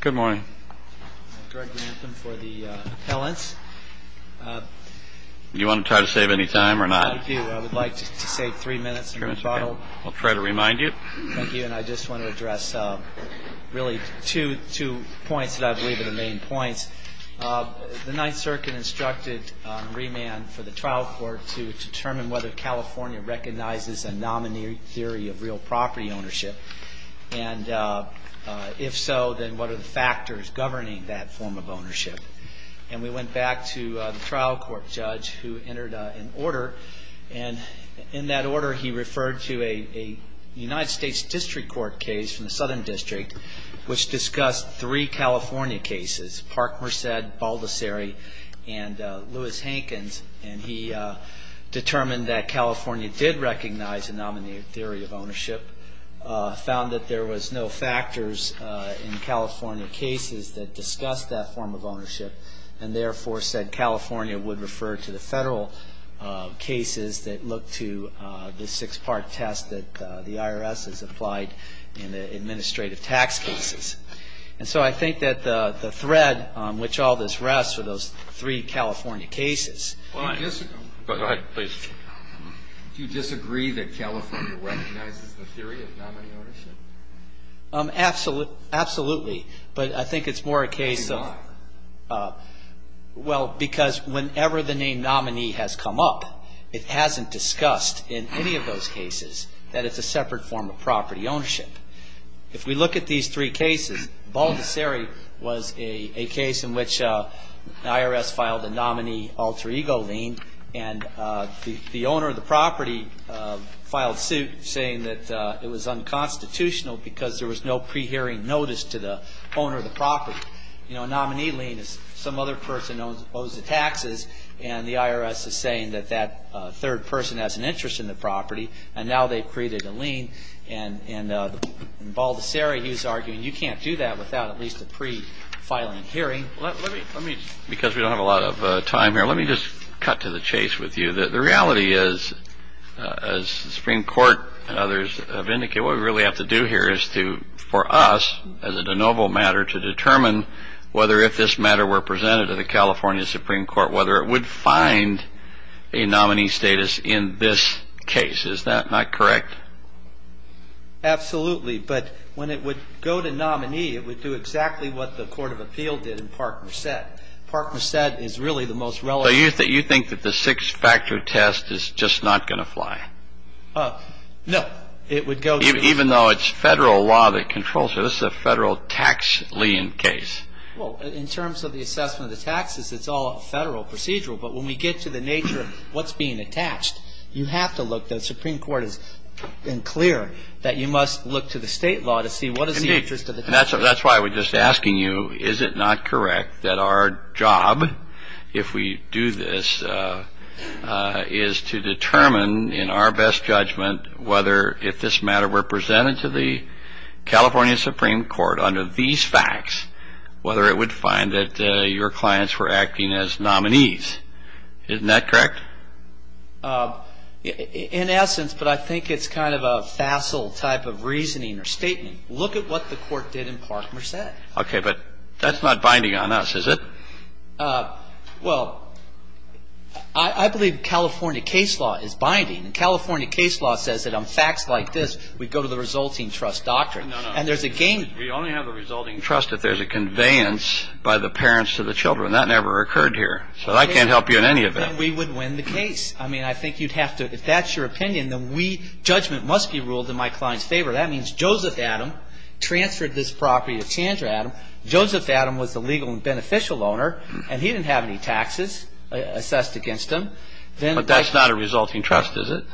Good morning. I'm Greg Rantham for the appellants. Do you want to try to save any time or not? I do. I would like to save three minutes and rebuttal. I'll try to remind you. Thank you. And I just want to address really two points that I believe are the main points. The Ninth Circuit instructed remand for the trial court to determine whether California recognizes a nominee theory of real property ownership. And if so, then what are the factors governing that form of ownership? And we went back to the trial court judge who entered an order, and in that order he referred to a United States District Court case from the Southern District, which discussed three California cases, Park-Merced, Baldessari, and Lewis-Hankins. And he determined that California did recognize a nominee theory of ownership, found that there was no factors in California cases that discussed that form of ownership, and therefore said California would refer to the federal cases that look to the six-part test that the IRS has applied in the administrative tax cases. And so I think that the thread on which all this rests are those three California cases. Go ahead, please. Do you disagree that California recognizes the theory of nominee ownership? Absolutely. But I think it's more a case of – Why? Well, because whenever the name nominee has come up, it hasn't discussed in any of those cases that it's a separate form of property ownership. If we look at these three cases, Baldessari was a case in which the IRS filed a nominee alter ego lien, and the owner of the property filed suit saying that it was unconstitutional because there was no pre-hearing notice to the owner of the property. You know, a nominee lien is some other person owes the taxes, and the IRS is saying that that third person has an interest in the property, and now they've created a lien. And Baldessari, he was arguing, you can't do that without at least a pre-filing hearing. Let me – because we don't have a lot of time here, let me just cut to the chase with you. The reality is, as the Supreme Court and others have indicated, what we really have to do here is for us, as a de novo matter, to determine whether if this matter were presented to the California Supreme Court, whether it would find a nominee status in this case. Is that not correct? Absolutely. But when it would go to nominee, it would do exactly what the Court of Appeal did in Park-Merced. Park-Merced is really the most relevant – So you think that the six-factor test is just not going to fly? No. It would go to – Even though it's federal law that controls it. This is a federal tax lien case. Well, in terms of the assessment of the taxes, it's all a federal procedural. But when we get to the nature of what's being attached, you have to look – the Supreme Court has been clear that you must look to the state law to see what is the interest of the taxpayer. That's why I was just asking you, is it not correct that our job, if we do this, is to determine in our best judgment whether if this matter were presented to the California Supreme Court under these facts, whether it would find that your clients were acting as nominees. Isn't that correct? In essence, but I think it's kind of a facile type of reasoning or statement, look at what the Court did in Park-Merced. Okay, but that's not binding on us, is it? Well, I believe California case law is binding. California case law says that on facts like this, we go to the resulting trust doctrine. And there's a gain. We only have a resulting trust if there's a conveyance by the parents to the children. That never occurred here. So that can't help you in any event. Then we would win the case. I mean, I think you'd have to – if that's your opinion, then we – judgment must be ruled in my client's favor. That means Joseph Adam transferred this property to Chandra Adam. Joseph Adam was the legal and beneficial owner, and he didn't have any taxes assessed against him. But that's not a resulting trust, is it?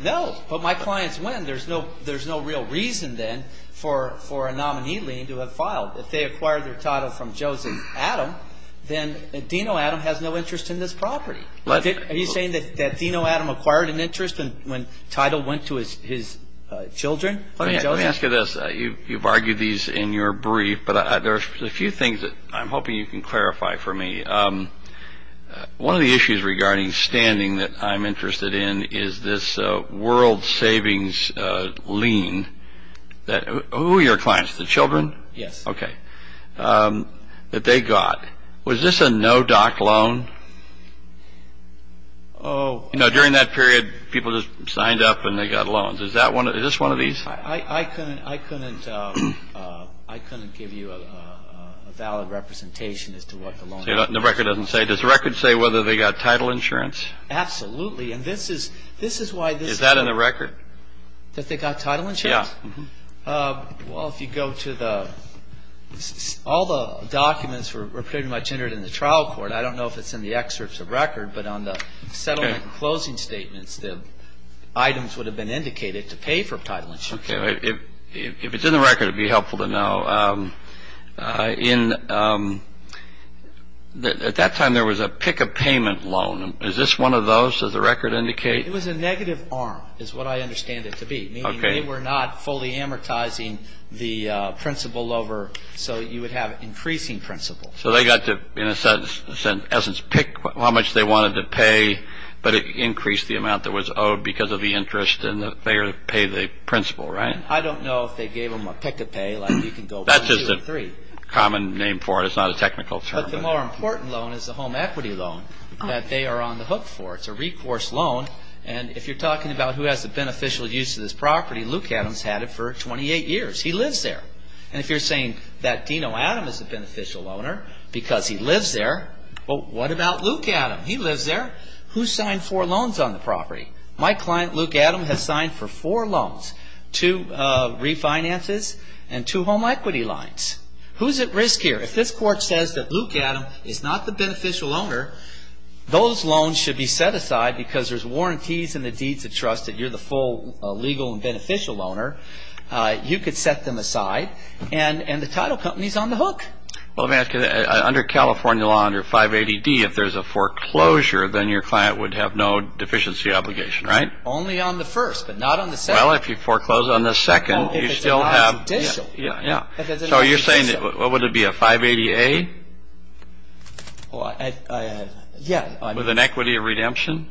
No. But my clients win. There's no real reason, then, for a nominee lien to have filed. If they acquired their title from Joseph Adam, then Dino Adam has no interest in this property. Are you saying that Dino Adam acquired an interest when title went to his children? Let me ask you this. You've argued these in your brief, but there are a few things that I'm hoping you can clarify for me. One of the issues regarding standing that I'm interested in is this world savings lien that – who are your clients? The children? Yes. Okay. That they got. Was this a no-doc loan? Oh. You know, during that period, people just signed up and they got loans. Is this one of these? I couldn't give you a valid representation as to what the loan was. The record doesn't say. Does the record say whether they got title insurance? Absolutely. And this is why this is – Is that in the record? That they got title insurance? Yeah. Well, if you go to the – all the documents were pretty much entered in the trial court. I don't know if it's in the excerpts of record, but on the settlement closing statements, the items would have been indicated to pay for title insurance. Okay. If it's in the record, it would be helpful to know. At that time, there was a pick-a-payment loan. Is this one of those? Does the record indicate? It was a negative arm is what I understand it to be. Okay. Meaning they were not fully amortizing the principal over so you would have increasing principal. So they got to, in a sense, pick how much they wanted to pay, but it increased the amount that was owed because of the interest and they would pay the principal, right? And I don't know if they gave them a pick-a-pay like you can go one, two, or three. That's just a common name for it. It's not a technical term. But the more important loan is the home equity loan that they are on the hook for. It's a recourse loan, and if you're talking about who has the beneficial use of this property, Luke Adams had it for 28 years. He lives there. And if you're saying that Dino Adams is a beneficial owner because he lives there, well, what about Luke Adams? He lives there. Who signed four loans on the property? My client, Luke Adams, has signed for four loans, two refinances and two home equity loans. Who's at risk here? If this court says that Luke Adams is not the beneficial owner, those loans should be set aside because there's warranties and the deeds of trust that you're the full legal and beneficial owner. You could set them aside. And the title company is on the hook. Well, let me ask you, under California law under 580D, if there's a foreclosure, then your client would have no deficiency obligation, right? Only on the first, but not on the second. Well, if you foreclose on the second, you still have. Well, if it's not judicial. Yeah, yeah. So you're saying, what would it be, a 580A? Well, yeah. With an equity of redemption?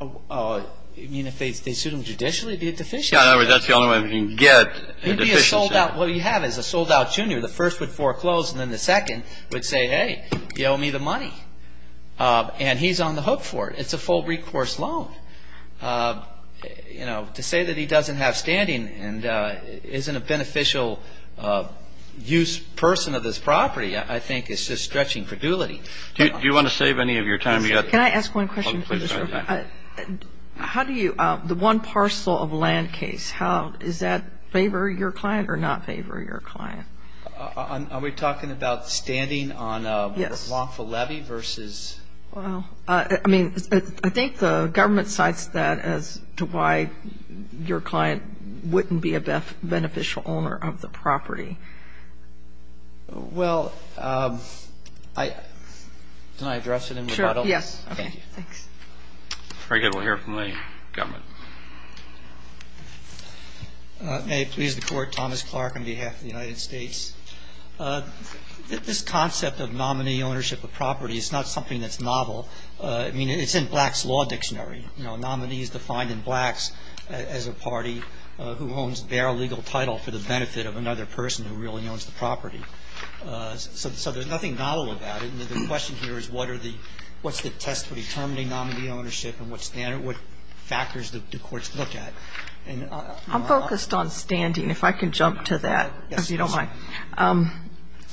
You mean if they sued him judicially, it would be a deficiency? Yeah, in other words, that's the only way we can get a deficiency. It would be a sold-out. What you have is a sold-out junior. The first would foreclose, and then the second would say, hey, you owe me the money. And he's on the hook for it. It's a full recourse loan. You know, to say that he doesn't have standing and isn't a beneficial use person of this property, I think, is just stretching credulity. Do you want to save any of your time yet? Yes. Can I ask one question, please? How do you – the one parcel of land case, is that in favor of your client or not in favor of your client? Are we talking about standing on a wrongful levy versus? Well, I mean, I think the government cites that as to why your client wouldn't be a beneficial owner of the property. Well, can I address it in the bottle? Sure, yes. Okay, thanks. Very good. We'll hear from the government. May it please the Court. Thomas Clark on behalf of the United States. This concept of nominee ownership of property is not something that's novel. I mean, it's in Black's Law Dictionary. Nominee is defined in Black's as a party who owns their legal title for the benefit of another person who really owns the property. So there's nothing novel about it. And the question here is what are the – what's the test for determining nominee ownership and what factors do courts look at? I'm focused on standing, if I can jump to that, if you don't mind. Yes,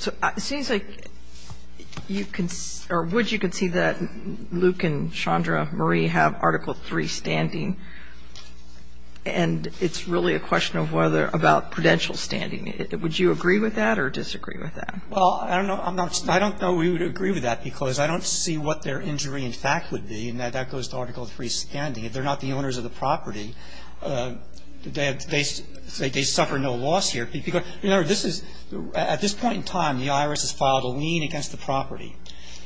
please. So it seems like you can – or would you concede that Luke and Chandra Marie have Article III standing, and it's really a question of whether – about prudential standing. Would you agree with that or disagree with that? Well, I don't know we would agree with that because I don't see what their injury in fact would be, and that goes to Article III standing. If they're not the owners of the property, they suffer no loss here. You know, this is – at this point in time, the IRS has filed a lien against the property.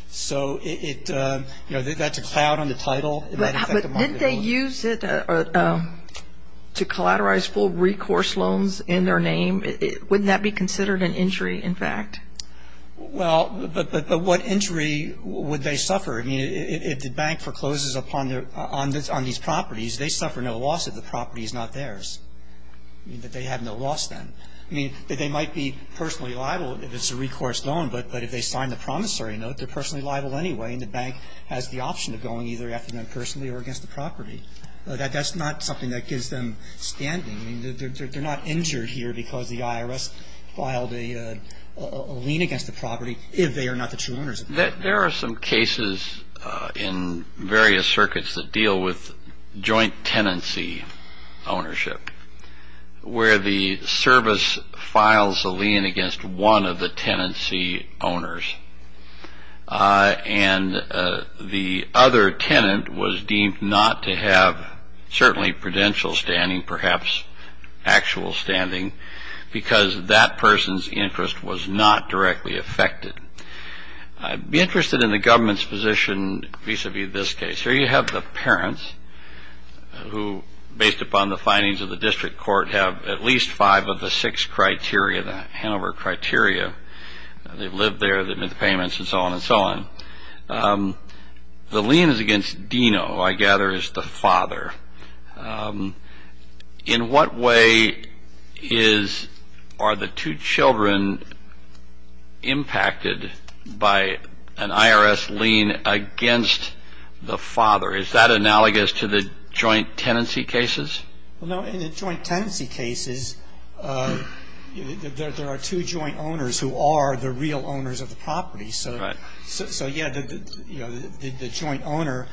So it – you know, that's a cloud on the title. But didn't they use it to collateralize full recourse loans in their name? Wouldn't that be considered an injury in fact? Well, but what injury would they suffer? I mean, if the bank forecloses upon their – on these properties, they suffer no loss if the property is not theirs. I mean, that they have no loss then. I mean, that they might be personally liable if it's a recourse loan, but if they sign the promissory note, they're personally liable anyway, and the bank has the option of going either after them personally or against the property. That's not something that gives them standing. I mean, they're not injured here because the IRS filed a lien against the property if they are not the true owners of the property. There are some cases in various circuits that deal with joint tenancy ownership where the service files a lien against one of the tenancy owners and the other tenant was deemed not to have certainly prudential standing, perhaps actual standing, because that person's interest was not directly affected. Be interested in the government's position vis-a-vis this case. Here you have the parents who, based upon the findings of the district court, have at least five of the six criteria, the Hanover criteria. They've lived there. They've made the payments and so on and so on. The lien is against Dino, I gather, is the father. In what way are the two children impacted by an IRS lien against the father? Is that analogous to the joint tenancy cases? In the joint tenancy cases, there are two joint owners who are the real owners of the property. So, yeah, the joint owner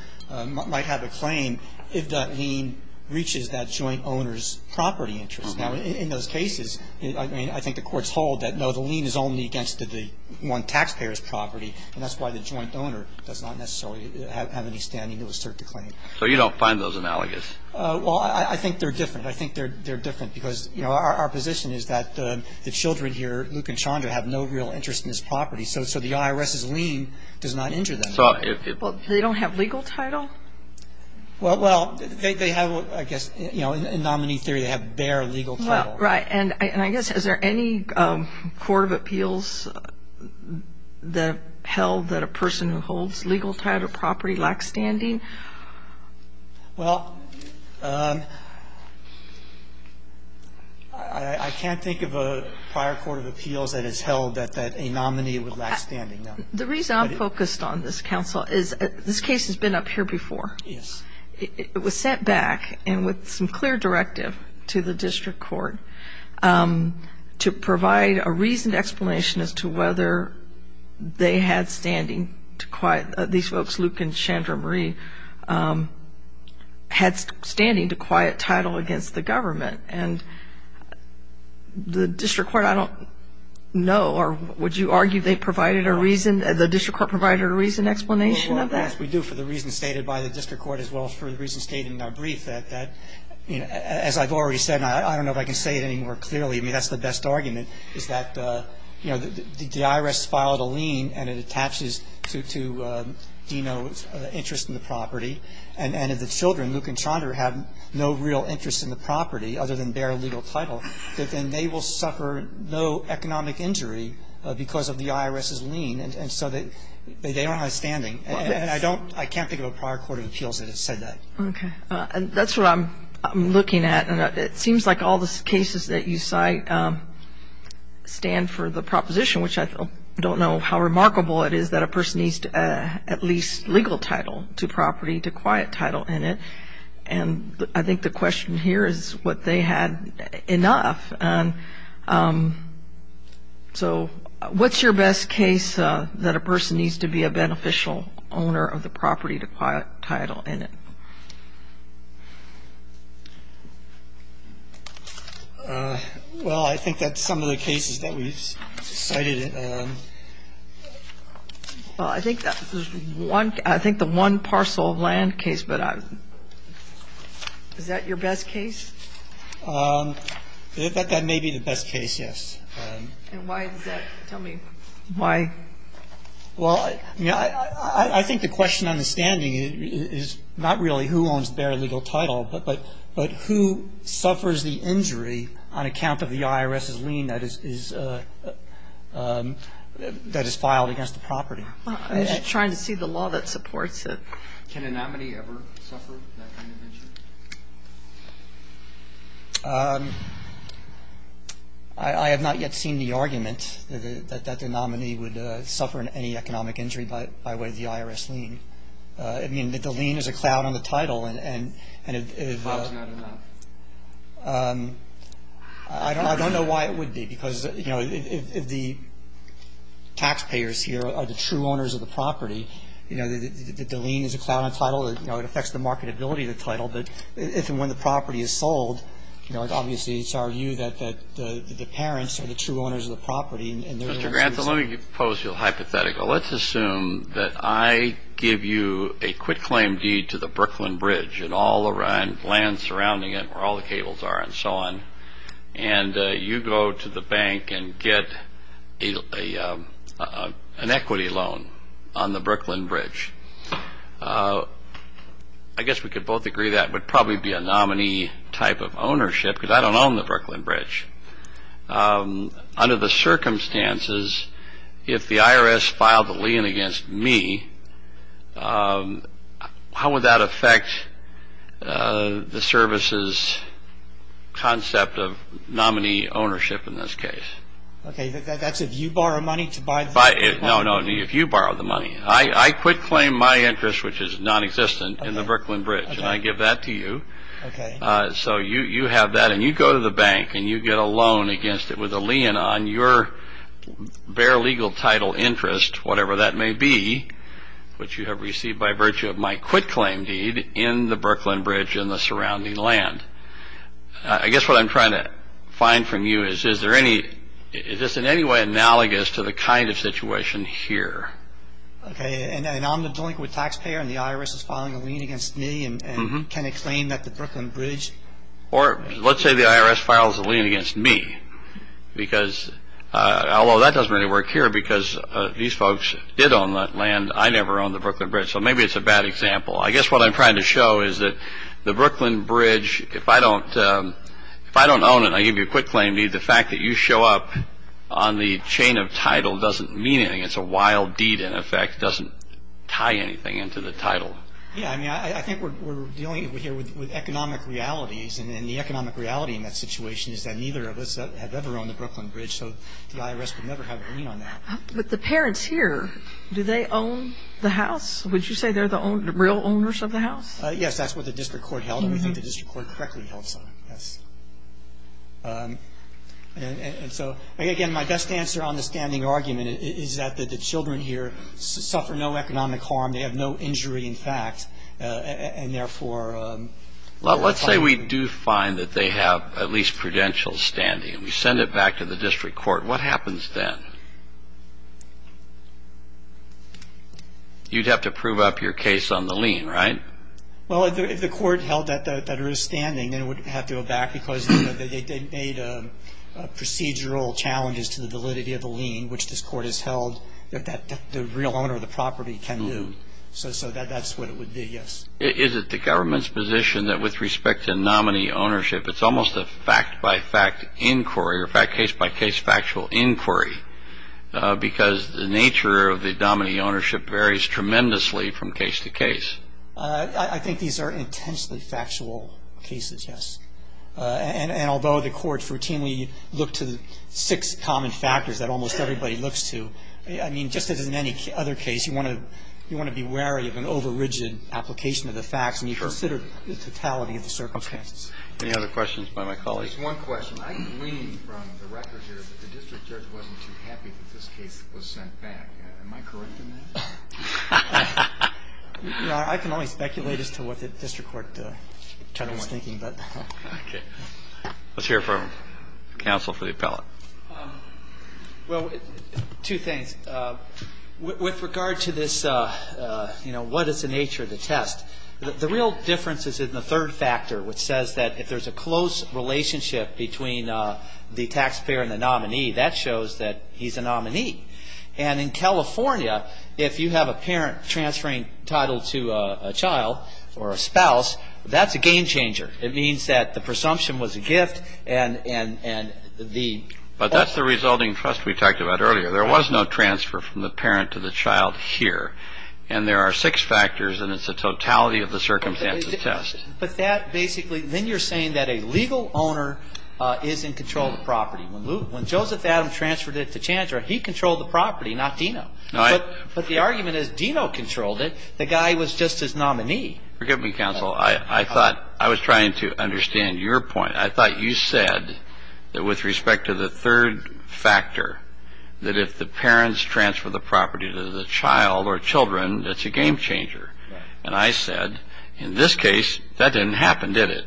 might have a claim if that lien reaches that joint owner's property interest. Now, in those cases, I mean, I think the courts hold that, no, the lien is only against the one taxpayer's property, and that's why the joint owner does not necessarily have any standing to assert the claim. So you don't find those analogous? Well, I think they're different. I think they're different because, you know, our position is that the children here, Luke and Chandra, have no real interest in this property. So the IRS's lien does not injure them. Well, they don't have legal title? Well, they have, I guess, you know, in nominee theory, they have bare legal title. Right. And I guess, is there any court of appeals that held that a person who holds legal title property lacks standing? Well, I can't think of a prior court of appeals that has held that a nominee would lack standing, no. The reason I'm focused on this, counsel, is this case has been up here before. Yes. It was sent back, and with some clear directive to the district court, to provide a reasoned explanation as to whether they had standing to quiet these folks, Luke and Chandra Marie, had standing to quiet title against the government. And the district court, I don't know, or would you argue they provided a reason, the district court provided a reasoned explanation of that? Well, yes, we do, for the reason stated by the district court, as well as for the reason stated in our brief, that, you know, as I've already said, and I don't know if I can say it any more clearly, I mean, that's the best argument, is that, you know, the IRS filed a lien, and it attaches to Dino's interest in the property. And if the children, Luke and Chandra, have no real interest in the property other than bare legal title, that then they will suffer no economic injury because of the IRS's lien. And so they don't have standing. And I don't, I can't think of a prior court of appeals that has said that. Okay. That's what I'm looking at. And it seems like all the cases that you cite stand for the proposition, which I don't know how remarkable it is that a person needs at least legal title to property to quiet title in it. And I think the question here is what they had enough. And so what's your best case that a person needs to be a beneficial owner of the property to quiet title in it? Well, I think that's some of the cases that we've cited. Well, I think there's one, I think the one parcel of land case, but is that your best case? That may be the best case, yes. And why is that? Tell me. Why? Well, I think the question on the standing is not really who owns bare legal title, but who suffers the injury on account of the IRS's lien that is filed against the property. I'm just trying to see the law that supports it. Can a nominee ever suffer that kind of injury? I have not yet seen the argument that the nominee would suffer any economic injury by way of the IRS lien. I mean, the lien is a cloud on the title. That's not enough. I don't know why it would be, because if the taxpayers here are the true owners of the property, the lien is a cloud on title. It affects the marketability of the title. But when the property is sold, obviously it's our view that the parents are the true owners of the property. Mr. Grantham, let me pose you a hypothetical. Let's assume that I give you a quitclaim deed to the Brooklyn Bridge and all the land surrounding it where all the cables are and so on, and you go to the bank and get an equity loan on the Brooklyn Bridge. I guess we could both agree that would probably be a nominee type of ownership, because I don't own the Brooklyn Bridge. Under the circumstances, if the IRS filed the lien against me, how would that affect the service's concept of nominee ownership in this case? Okay, that's if you borrow money to buy the property? No, no, if you borrow the money. I quitclaim my interest, which is nonexistent, in the Brooklyn Bridge, and I give that to you. Okay. So you have that, and you go to the bank, and you get a loan against it with a lien on your bare legal title interest, whatever that may be, which you have received by virtue of my quitclaim deed in the Brooklyn Bridge and the surrounding land. I guess what I'm trying to find from you is, is this in any way analogous to the kind of situation here? Okay, and I'm the delinquent taxpayer, and the IRS is filing a lien against me, and can it claim that the Brooklyn Bridge? Or let's say the IRS files a lien against me, although that doesn't really work here because these folks did own that land. I never owned the Brooklyn Bridge, so maybe it's a bad example. I guess what I'm trying to show is that the Brooklyn Bridge, if I don't own it, and I give you a quitclaim deed, the fact that you show up on the chain of title doesn't mean anything. It's a wild deed, in effect. It doesn't tie anything into the title. Yeah, I mean, I think we're dealing here with economic realities, and the economic reality in that situation is that neither of us have ever owned the Brooklyn Bridge, so the IRS would never have a lien on that. But the parents here, do they own the house? Would you say they're the real owners of the house? Yes, that's what the district court held, and we think the district court correctly held so. Yes. And so, again, my best answer on the standing argument is that the children here suffer no economic harm. They have no injury, in fact, and, therefore, Well, let's say we do find that they have at least prudential standing, and we send it back to the district court. What happens then? You'd have to prove up your case on the lien, right? Well, if the court held that there is standing, then it would have to go back because they made procedural challenges to the validity of the lien, which this court has held that the real owner of the property can do. So that's what it would be, yes. Is it the government's position that with respect to nominee ownership, it's almost a fact-by-fact inquiry or case-by-case factual inquiry because the nature of the nominee ownership varies tremendously from case to case? I think these are intentionally factual cases, yes. And although the court routinely looked to six common factors that almost everybody looks to, I mean, just as in any other case, you want to be wary of an overrigid application of the facts, and you consider the totality of the circumstances. Any other questions by my colleagues? Just one question. I can glean from the record here that the district judge wasn't too happy that this case was sent back. Am I correct in that? You know, I can only speculate as to what the district court gentleman is thinking, but. Okay. Let's hear from counsel for the appellate. Well, two things. With regard to this, you know, what is the nature of the test, the real difference is in the third factor, which says that if there's a close relationship between the taxpayer and the nominee, that shows that he's a nominee. And in California, if you have a parent transferring title to a child or a spouse, that's a game changer. It means that the presumption was a gift and the. But that's the resulting trust we talked about earlier. There was no transfer from the parent to the child here. And there are six factors, and it's a totality of the circumstances test. But that basically, then you're saying that a legal owner is in control of the property. When Joseph Adams transferred it to Chandra, he controlled the property, not Dino. But the argument is Dino controlled it. The guy was just his nominee. Forgive me, counsel. I thought I was trying to understand your point. I thought you said that with respect to the third factor, that if the parents transfer the property to the child or children, that's a game changer. And I said, in this case, that didn't happen, did it?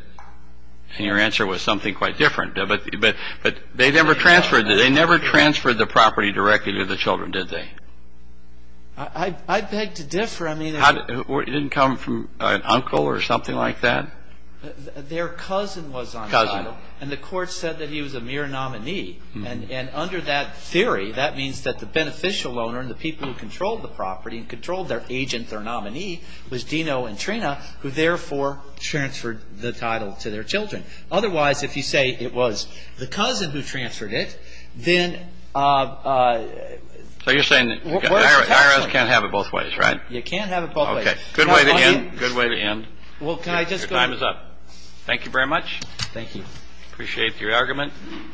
And your answer was something quite different. But they never transferred the property directly to the children, did they? I beg to differ. It didn't come from an uncle or something like that? Their cousin was on trial. Cousin. And the court said that he was a mere nominee. And under that theory, that means that the beneficial owner and the people who controlled the property and controlled their agent, their nominee, was Dino and Trina, who therefore transferred the title to their children. Otherwise, if you say it was the cousin who transferred it, then what is the tax on that? So you're saying IRS can't have it both ways, right? You can't have it both ways. Okay. Good way to end. Your time is up. Thank you very much. Thank you. Appreciate your argument.